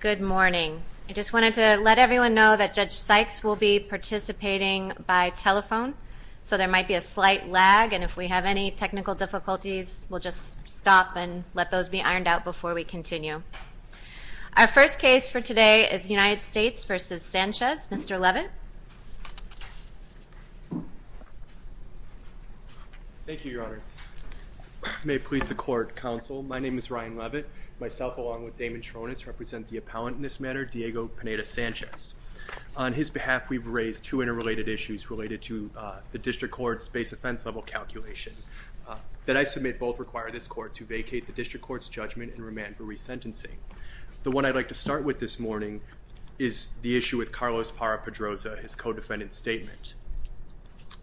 Good morning. I just wanted to let everyone know that Judge Sykes will be participating by telephone, so there might be a slight lag and if we have any technical difficulties we'll just stop and let those be ironed out before we continue. Our first case for your honors. May it please the court, counsel. My name is Ryan Levitt. Myself along with Damon Tronis represent the appellant in this matter, Diego Pineda Sanchez. On his behalf we've raised two interrelated issues related to the district court's base offense level calculation that I submit both require this court to vacate the district court's judgment and remand for resentencing. The one I'd like to start with this morning is the issue with Carlos Parra-Pedroza, his co-defendant statement.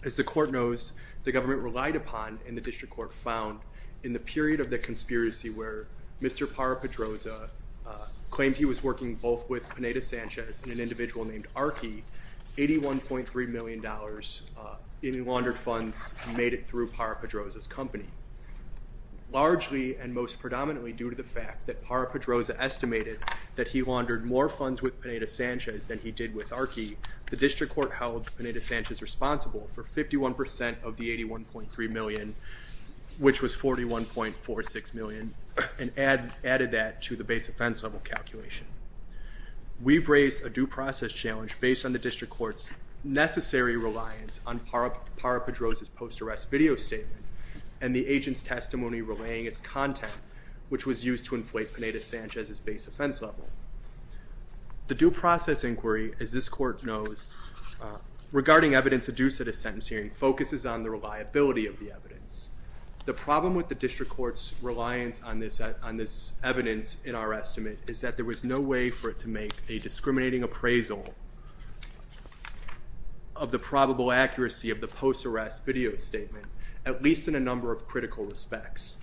As the court knows, the government relied upon and the district court found in the period of the conspiracy where Mr. Parra-Pedroza claimed he was working both with Pineda Sanchez and an individual named Arki, $81.3 million in laundered funds made it through Parra-Pedroza's company. Largely and most predominantly due to the fact that Parra-Pedroza estimated that he laundered more funds with Pineda Sanchez than he did with Arki, the district court held Pineda Sanchez responsible for 51% of the $81.3 million, which was $41.46 million, and added that to the base offense level calculation. We've raised a due process challenge based on the district court's necessary reliance on Parra-Pedroza's post-arrest video statement and the agent's testimony relaying its content, which was used to inflate Pineda Sanchez's base offense level. The due process inquiry, as this court knows, regarding evidence adduced at a sentence hearing focuses on the reliability of the evidence. The problem with the district court's reliance on this evidence in our estimate is that there was no way for it to make a discriminating appraisal of the probable accuracy of the post-arrest video statement, at least in a number of critical respects.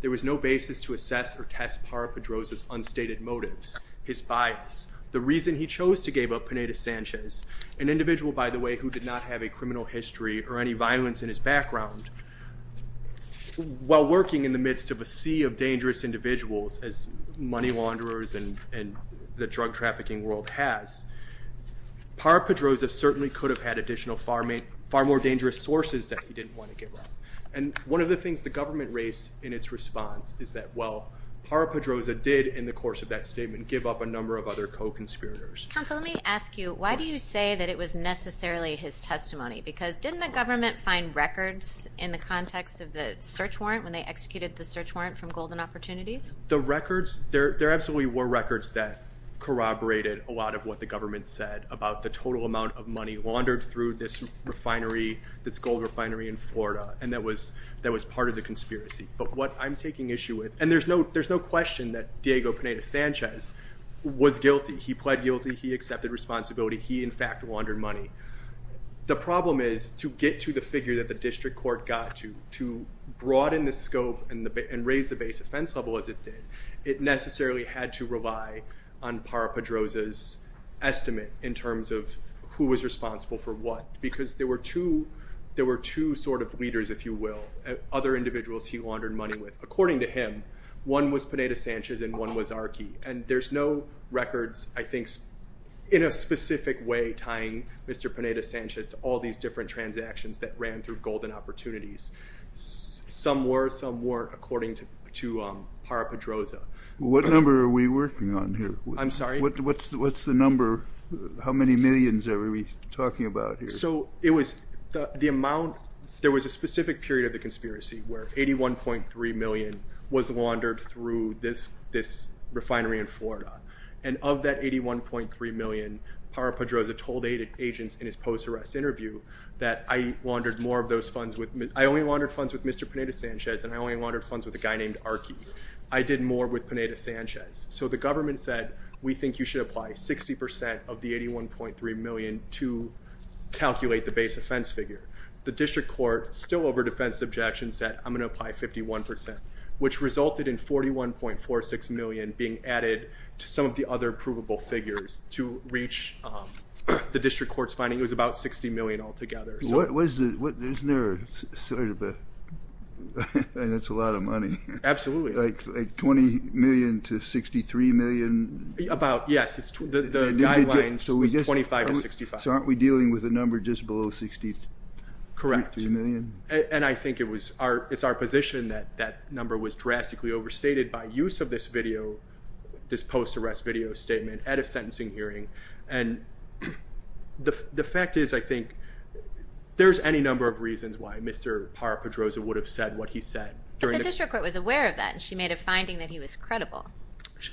There was no basis to assess or test Parra-Pedroza's unstated motives, his bias, the reason he arrested Pineda Sanchez, an individual, by the way, who did not have a criminal history or any violence in his background, while working in the midst of a sea of dangerous individuals, as money launderers and the drug trafficking world has, Parra-Pedroza certainly could have had additional, far more dangerous sources that he didn't want to give up. And one of the things the government raised in its response is that while Parra-Pedroza did, in the course of that statement, give up a number of other co-conspirators. Counsel, let me ask you, why do you say that it was necessarily his testimony? Because didn't the government find records in the context of the search warrant when they executed the search warrant from Golden Opportunities? The records, there absolutely were records that corroborated a lot of what the government said about the total amount of money laundered through this gold refinery in Florida, and that was part of the conspiracy. But what I'm taking issue with, and there's no question that Diego Pineda-Sanchez was guilty. He pled guilty. He accepted responsibility. He, in fact, laundered money. The problem is, to get to the figure that the district court got to, to broaden the scope and raise the base offense level as it did, it necessarily had to rely on Parra-Pedroza's estimate in terms of who was responsible for what. Because there were two sort of leaders, if you will, other individuals he laundered money with. According to him, one was Pineda-Sanchez and one was Arkey. And there's no records, I think, in a specific way tying Mr. Pineda-Sanchez to all these different transactions that ran through Golden Opportunities. Some were, some weren't, according to Parra-Pedroza. What number are we working on here? I'm sorry? What's the number? How many millions are we talking about here? So it was, the amount, there was a specific period of the conspiracy where 81.3 million was laundered through this refinery in Florida. And of that 81.3 million, Parra-Pedroza told agents in his post-arrest interview that I laundered more of those funds with, I only laundered funds with Mr. Pineda-Sanchez and I only laundered funds with a guy named Arkey. I did more with Pineda-Sanchez. So the government said, we think you should apply 60% of the base offense figure. The district court, still over defense objections, said, I'm going to apply 51%, which resulted in 41.46 million being added to some of the other provable figures to reach the district court's finding. It was about 60 million altogether. Wasn't there sort of a, I mean, that's a lot of money. Absolutely. Like 20 million to 63 million? About, yes. The guidelines was 25 to 65. So aren't we dealing with a number just below 63 million? Correct. And I think it was our, it's our position that that number was drastically overstated by use of this video, this post-arrest video statement at a sentencing hearing. And the fact is, I think there's any number of reasons why Mr. Parra-Pedroza would have said what he said. But the district court was aware of that and she made a finding that he was credible.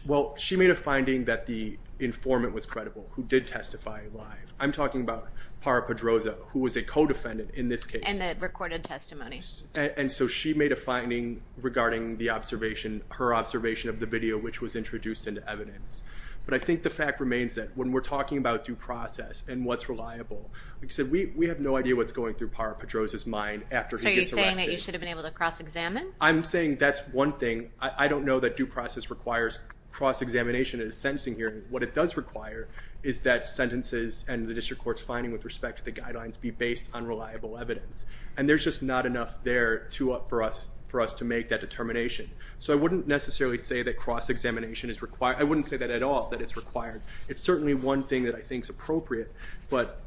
Well, she made a finding that the informant was credible, who did testify live. I'm talking about Parra-Pedroza, who was a co-defendant in this case. And the recorded testimony. And so she made a finding regarding the observation, her observation of the video, which was introduced into evidence. But I think the fact remains that when we're talking about due process and what's reliable, like I said, we have no idea what's going through Parra-Pedroza's mind after he gets arrested. So are you saying that you should have been able to cross-examine? I'm saying that's one thing. I don't know that due process requires cross-examination at a sentencing hearing. What it does require is that sentences and the district court's finding with respect to the guidelines be based on reliable evidence. And there's just not enough there for us to make that determination. So I wouldn't necessarily say that cross-examination is required. I wouldn't say that at all, that it's required. It's certainly one thing that I think is appropriate. But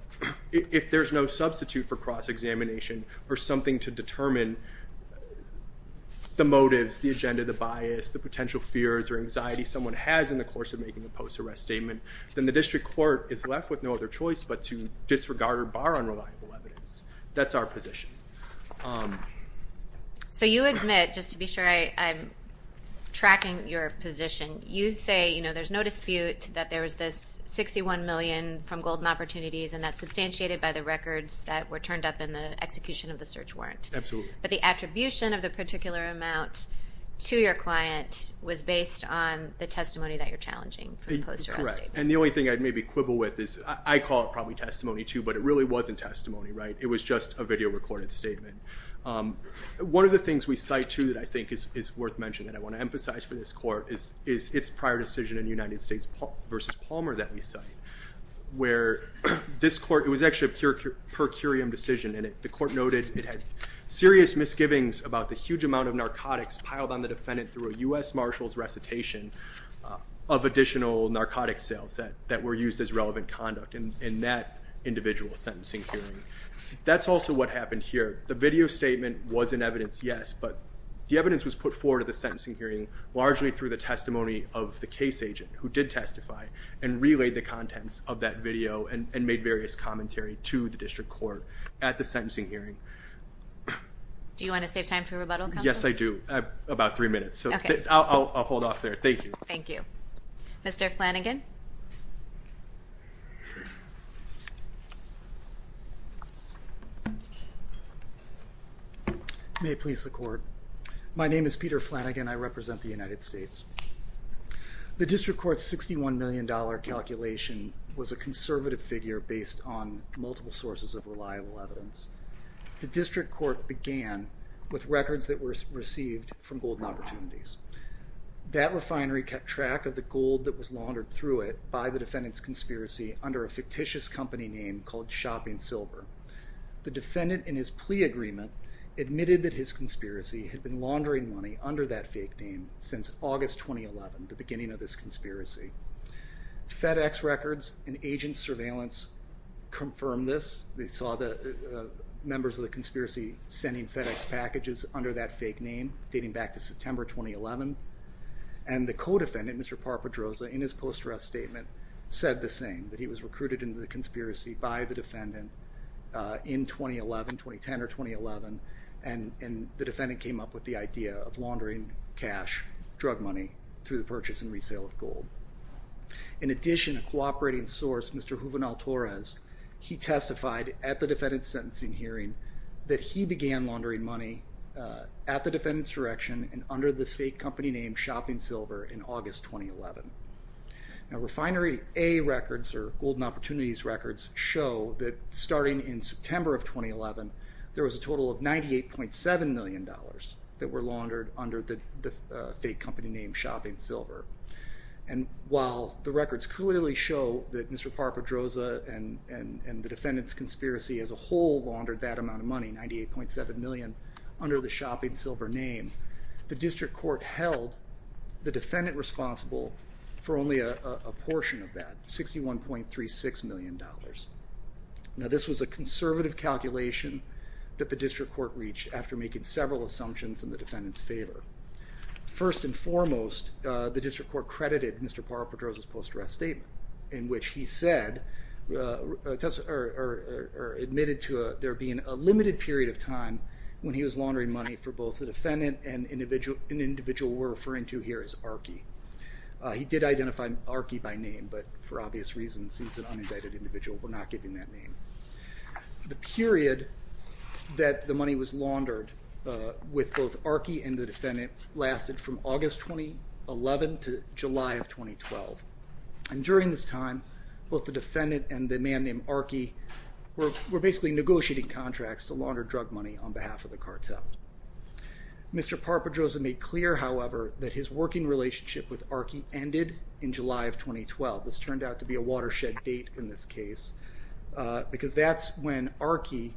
if there's no substitute for cross-examination or something to determine the motives, the agenda, the bias, the potential fears or anxiety someone has in the course of making a post-arrest statement, then the district court is left with no other choice but to disregard or bar unreliable evidence. That's our position. So you admit, just to be sure I'm tracking your position, you say there's no dispute that there was this $61 million from Golden Opportunities and that's substantiated by the records that were turned up in the execution of the search warrant. Absolutely. But the attribution of the particular amount to your client was based on the testimony that you're challenging for the post-arrest statement. Correct. And the only thing I'd maybe quibble with is, I call it probably testimony too, but it really wasn't testimony, right? It was just a video recorded statement. One of the things we cite too that I think is worth mentioning, that I want to emphasize for this court, is its prior decision in the United States v. Palmer that we cite, where this court, it was actually a per curiam decision, and the court noted it had serious misgivings about the huge amount of narcotics piled on the defendant through a U.S. Marshal's recitation of additional narcotic sales that were used as relevant conduct in that individual sentencing hearing. That's also what happened here. The video statement was in evidence, yes, but the evidence was put forward at the sentencing hearing, largely through the testimony of the case agent, who did testify, and relayed the contents of that video and made various commentary to the district court at the sentencing hearing. Do you want to save time for rebuttal, counsel? Yes, I do. About three minutes. Okay. I'll hold off there. Thank you. Thank you. Mr. Flanagan? May it please the court. My name is Peter Flanagan. I represent the United States. The district court's $61 million calculation was a conservative figure based on multiple sources of reliable evidence. The district court began with records that were received from Golden Opportunities. That refinery kept track of the gold that was laundered through it by the defendant's conspiracy under a fictitious company name called Shopping Silver. The defendant, in his plea agreement, admitted that his conspiracy had been laundering money under that fake name since August 2011, the beginning of this conspiracy. FedEx records and agent surveillance confirmed this. They saw the members of the conspiracy sending FedEx packages under that fake name, dating back to September 2011. And the co-defendant, Mr. Parpedroza, in his post-arrest statement said the same, that he was recruited into the conspiracy by the defendant in 2011, 2010 or 2011, and the defendant came up with the idea of laundering cash, drug money, through the purchase and resale of gold. In addition, a cooperating source, Mr. Juvenal-Torres, he testified at the defendant's sentencing hearing that he began laundering money at the defendant's direction and under the fake company name Shopping Silver in August 2011. Now Refinery A records, or Golden Opportunities records, show that starting in September of that were laundered under the fake company name Shopping Silver. And while the records clearly show that Mr. Parpedroza and the defendant's conspiracy as a whole laundered that amount of money, $98.7 million, under the Shopping Silver name, the district court held the defendant responsible for only a portion of that, $61.36 million. Now this was a conservative calculation that the district court reached after making several assumptions in the defendant's favor. First and foremost, the district court credited Mr. Parpedroza's post-arrest statement in which he said, or admitted to there being a limited period of time when he was laundering money for both the defendant and an individual we're referring to here as Archie. He did identify Archie by name, but for obvious reasons he's an uninvited individual, we're not giving that name. The period that the money was laundered with both Archie and the defendant lasted from August 2011 to July of 2012. And during this time, both the defendant and the man named Archie were basically negotiating contracts to launder drug money on behalf of the cartel. Mr. Parpedroza made clear, however, that his working relationship with Archie ended in July of 2012. This turned out to be a watershed date in this case, because that's when Archie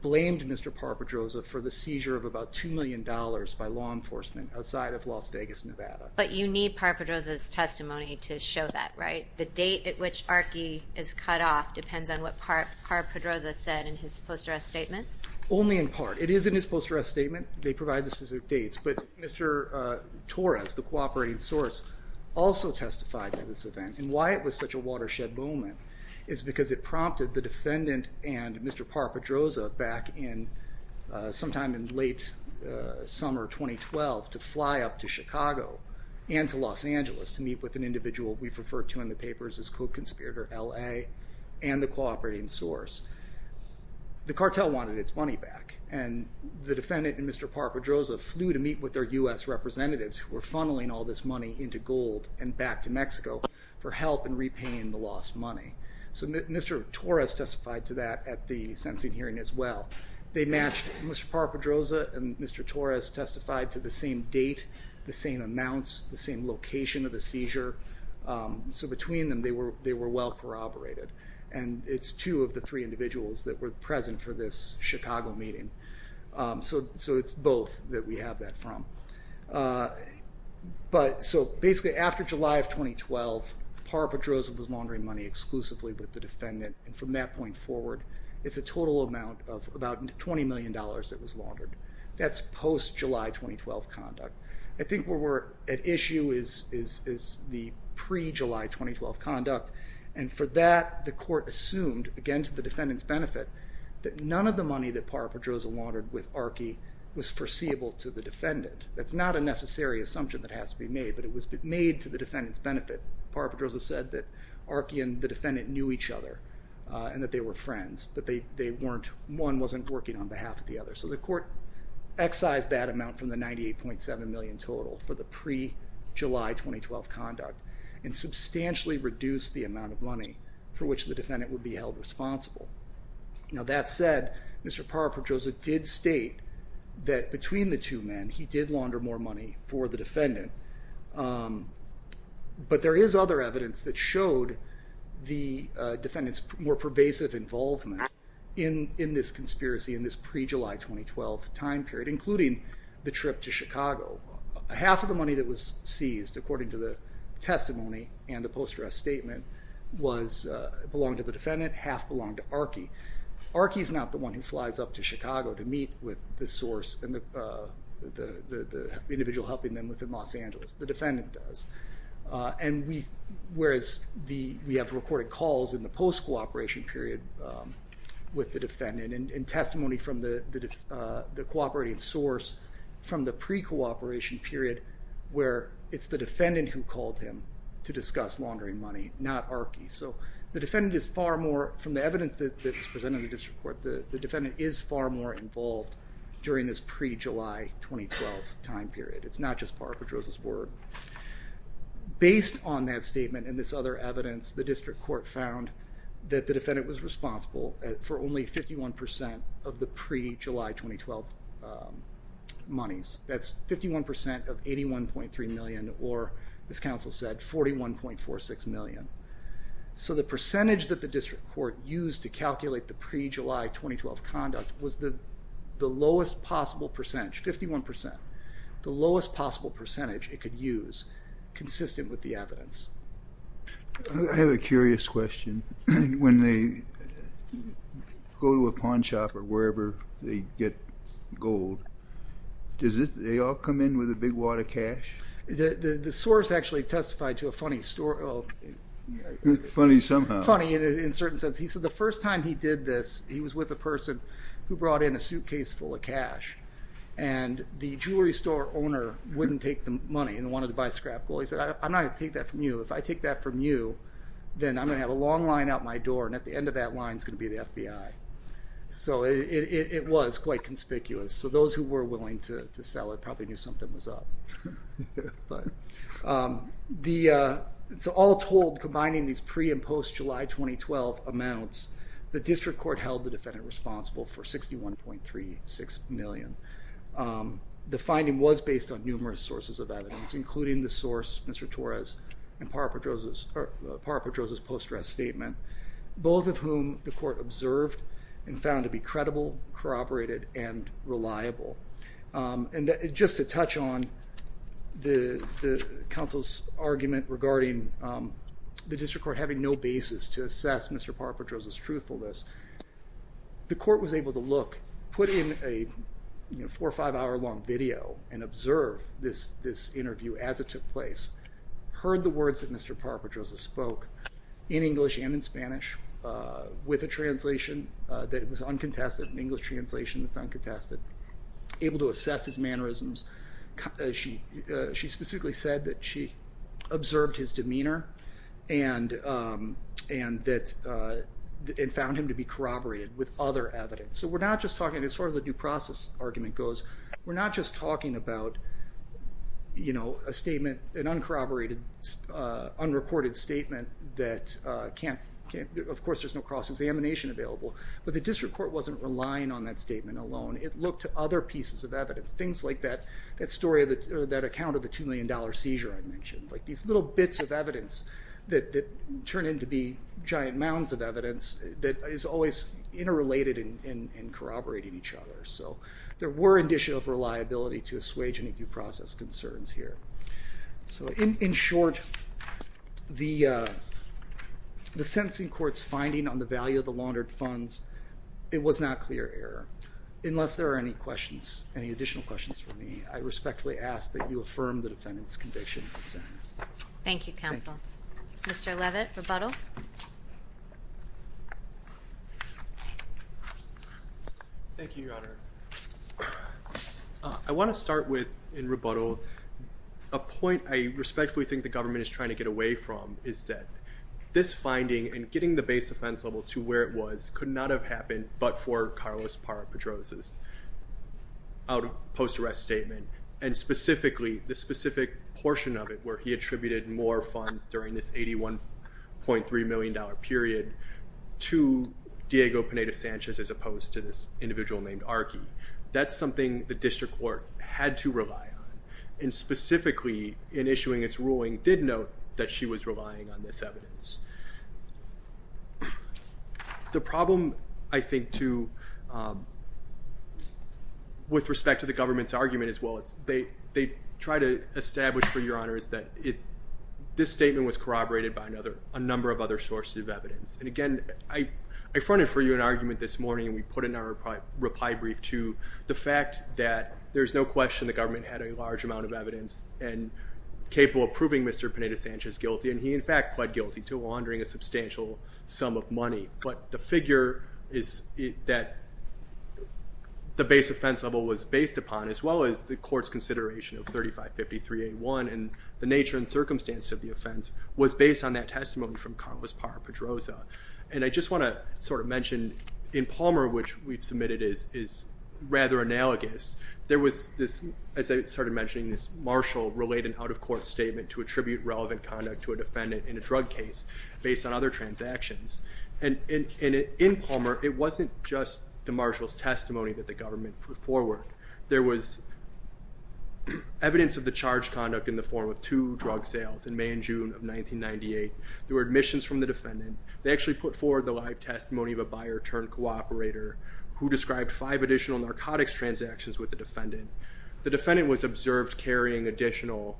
blamed Mr. Parpedroza for the seizure of about $2 million by law enforcement outside of Las Vegas, Nevada. But you need Parpedroza's testimony to show that, right? The date at which Archie is cut off depends on what Parpedroza said in his post-arrest statement? Only in part. It is in his post-arrest statement. They provide the specific dates. But Mr. Torres, the cooperating source, also testified to this event. And why it was such a watershed moment is because it prompted the defendant and Mr. Parpedroza back in sometime in late summer 2012 to fly up to Chicago and to Los Angeles to meet with an individual we've referred to in the papers as Code Conspirator LA and the cooperating source. The cartel wanted its money back. And the defendant and Mr. Parpedroza flew to meet with their U.S. representatives, who were funneling all this money into gold and back to Mexico for help in repaying the lost money. So Mr. Torres testified to that at the sentencing hearing as well. They matched. Mr. Parpedroza and Mr. Torres testified to the same date, the same amounts, the same location of the seizure. So between them, they were well corroborated. And it's two of the three individuals that were present for this Chicago meeting. So it's both that we have that from. But so basically after July of 2012, Parpedroza was laundering money exclusively with the defendant. And from that point forward, it's a total amount of about $20 million that was laundered. That's post-July 2012 conduct. I think where we're at issue is the pre-July 2012 conduct. And for that, the court assumed, again to the defendant's benefit, that none of the money that Parpedroza laundered with Archie was foreseeable to the defendant. That's not a necessary assumption that has to be made, but it was made to the defendant's benefit. Parpedroza said that Archie and the defendant knew each other and that they were friends, but one wasn't working on behalf of the other. So the court excised that amount from the $98.7 million total for the pre-July 2012 conduct and substantially reduced the amount of money for which the defendant would be held responsible. Now that said, Mr. Parpedroza did state that between the two men, he did launder more money for the defendant. But there is other evidence that showed the defendant's more pervasive involvement in this conspiracy in this pre-July 2012 time period, including the trip to Chicago. Half of the money that was seized, according to the testimony and the post-dress statement, was, belonged to the defendant, half belonged to Archie. Archie is not the one who flies up to Chicago to meet with the source and the individual helping them within Los Angeles. The defendant does. And whereas we have recorded calls in the post-cooperation period with the defendant and testimony from the cooperating source from the pre-cooperation period where it's the defendant who called him to discuss laundering money, not Archie. So the defendant is far more, from the evidence that was presented in the district court, the defendant is far more involved during this pre-July 2012 time period. It's not just Parpedroza's word. Based on that statement and this other evidence, the district court found that the defendant was responsible for only 51% of the pre-July 2012 monies. That's 51% of $81.3 million, or, as counsel said, $41.46 million. So the percentage that the district court used to calculate the pre-July 2012 conduct was the lowest possible percentage, 51%, the lowest possible percentage it could use, consistent with the evidence. I have a curious question. When they go to a pawn shop or wherever they get gold, does it all come in with a big wad of cash? The source actually testified to a funny story. Funny somehow. Funny in a certain sense. He said the first time he did this, he was with a person who brought in a suitcase full of cash. And the jewelry store owner wouldn't take the money and wanted to buy scrap gold. He said, I'm not going to take that from you. If I take that from you, then I'm going to have a long line out my door, and at the end of that line is going to be the FBI. So it was quite conspicuous. So those who were willing to sell it probably knew something was up. So all told, combining these pre- and post-July 2012 amounts, the district court held the defendant responsible for $61.36 million. The finding was based on numerous sources of evidence, including the source, Mr. Torres, and Parra-Pedroza's post-dress statement, both of whom the court observed and found to be credible, corroborated, and reliable. And just to touch on the counsel's argument regarding the district court having no basis to assess Mr. Parra-Pedroza's truthfulness, the court was able to look, put in a four or five hour long video, and observe this interview as it took place, heard the words that Mr. Parra-Pedroza spoke, in English and in Spanish, with a translation that was uncontested, an English translation that's uncontested, able to assess his mannerisms. She specifically said that she observed his demeanor and found him to be corroborated with other evidence. So we're not just talking, as far as the due process argument goes, we're not just talking about a statement, an uncorroborated, unrecorded statement that can't, of course there's no cross examination available, but the district court wasn't relying on that statement alone. It looked to other pieces of evidence. Things like that story, or that account of the $2 million seizure I mentioned, like these little bits of evidence that turn into be giant mounds of evidence that is always interrelated and corroborating each other. So there were additional reliability to assuage any due process concerns here. So in short, the sentencing court's finding on the value of the laundered funds, it was not clear error. Unless there are any questions, any additional questions for me, I respectfully ask that you affirm the defendant's conviction and sentence. Thank you, counsel. Thank you. Mr. Levitt, rebuttal. Thank you, Your Honor. I want to start with, in rebuttal, a point I respectfully think the government is trying to get away from, is that this finding and getting the base offense level to where it was, could not have happened but for Carlos Parra-Pedroza's post-arrest statement. And specifically, the specific portion of it, where he attributed more funds during this $81.3 million period to Diego Pineda-Sanchez as opposed to this individual named Archie. That's something the district court had to rely on, and specifically, in issuing its ruling, did note that she was relying on this evidence. The problem, I think, with respect to the government's argument as well, they try to establish for Your Honors that this statement was corroborated by a number of other sources of evidence. And again, I fronted for you an argument this morning, and we put in our reply brief to the fact that there's no question the government had a large amount of evidence and capable of proving Mr. Pineda-Sanchez guilty, and he, in fact, pled guilty to laundering a substantial sum of money. But the figure that the base offense level was based upon, as well as the court's consideration of 3553A1 and the nature and circumstance of the offense, was based on that testimony from Carlos Parra-Pedroza. And I just want to sort of mention, in Palmer, which we've submitted is rather analogous, there was this, as I started mentioning, this Marshall-related out-of-court statement to attribute relevant conduct to a defendant in a drug case based on other transactions. And in Palmer, it wasn't just the Marshall's testimony that the government put forward. There was evidence of the charged conduct in the form of two drug sales in May and June of 1998. There were admissions from the defendant. They actually put forward the live testimony of a buyer-turned-cooperator who described five additional narcotics transactions with the defendant. The defendant was observed carrying additional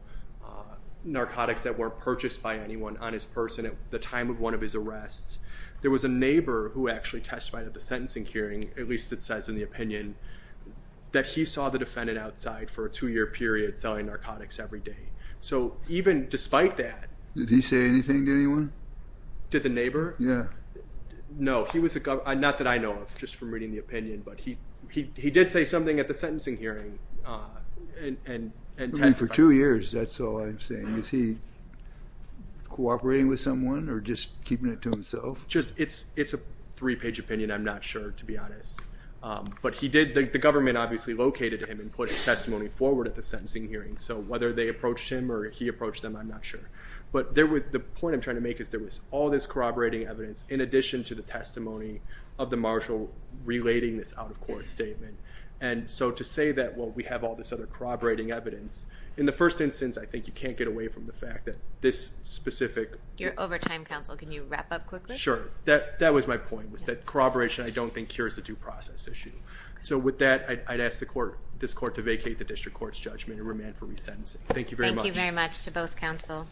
narcotics that weren't purchased by anyone on his person at the time of one of his arrests. There was a neighbor who actually testified at the sentencing hearing, at least it says in the opinion, that he saw the defendant outside for a two-year period selling narcotics every day. So even despite that- Did he say anything to anyone? Did the neighbor? Yeah. No, he was a- not that I know of, just from reading the opinion, but he did say something at the sentencing hearing and testified. For two years, that's all I'm saying. Is he cooperating with someone or just keeping it to himself? It's a three-page opinion, I'm not sure, to be honest. But he did- the government obviously located him and put his testimony forward at the sentencing hearing. So whether they approached him or he approached them, I'm not sure. But the point I'm trying to make is there was all this corroborating evidence in addition to the testimony of the marshal relating this out-of-court statement. And so to say that, well, we have all this other corroborating evidence, in the first instance, I think you can't get away from the fact that this specific- Your overtime counsel, can you wrap up quickly? Sure. That was my point, was that corroboration I don't think cures the due process issue. So with that, I'd ask this court to vacate the district court's judgment and remand for resentencing. Thank you very much. Thank you very much to both counsel.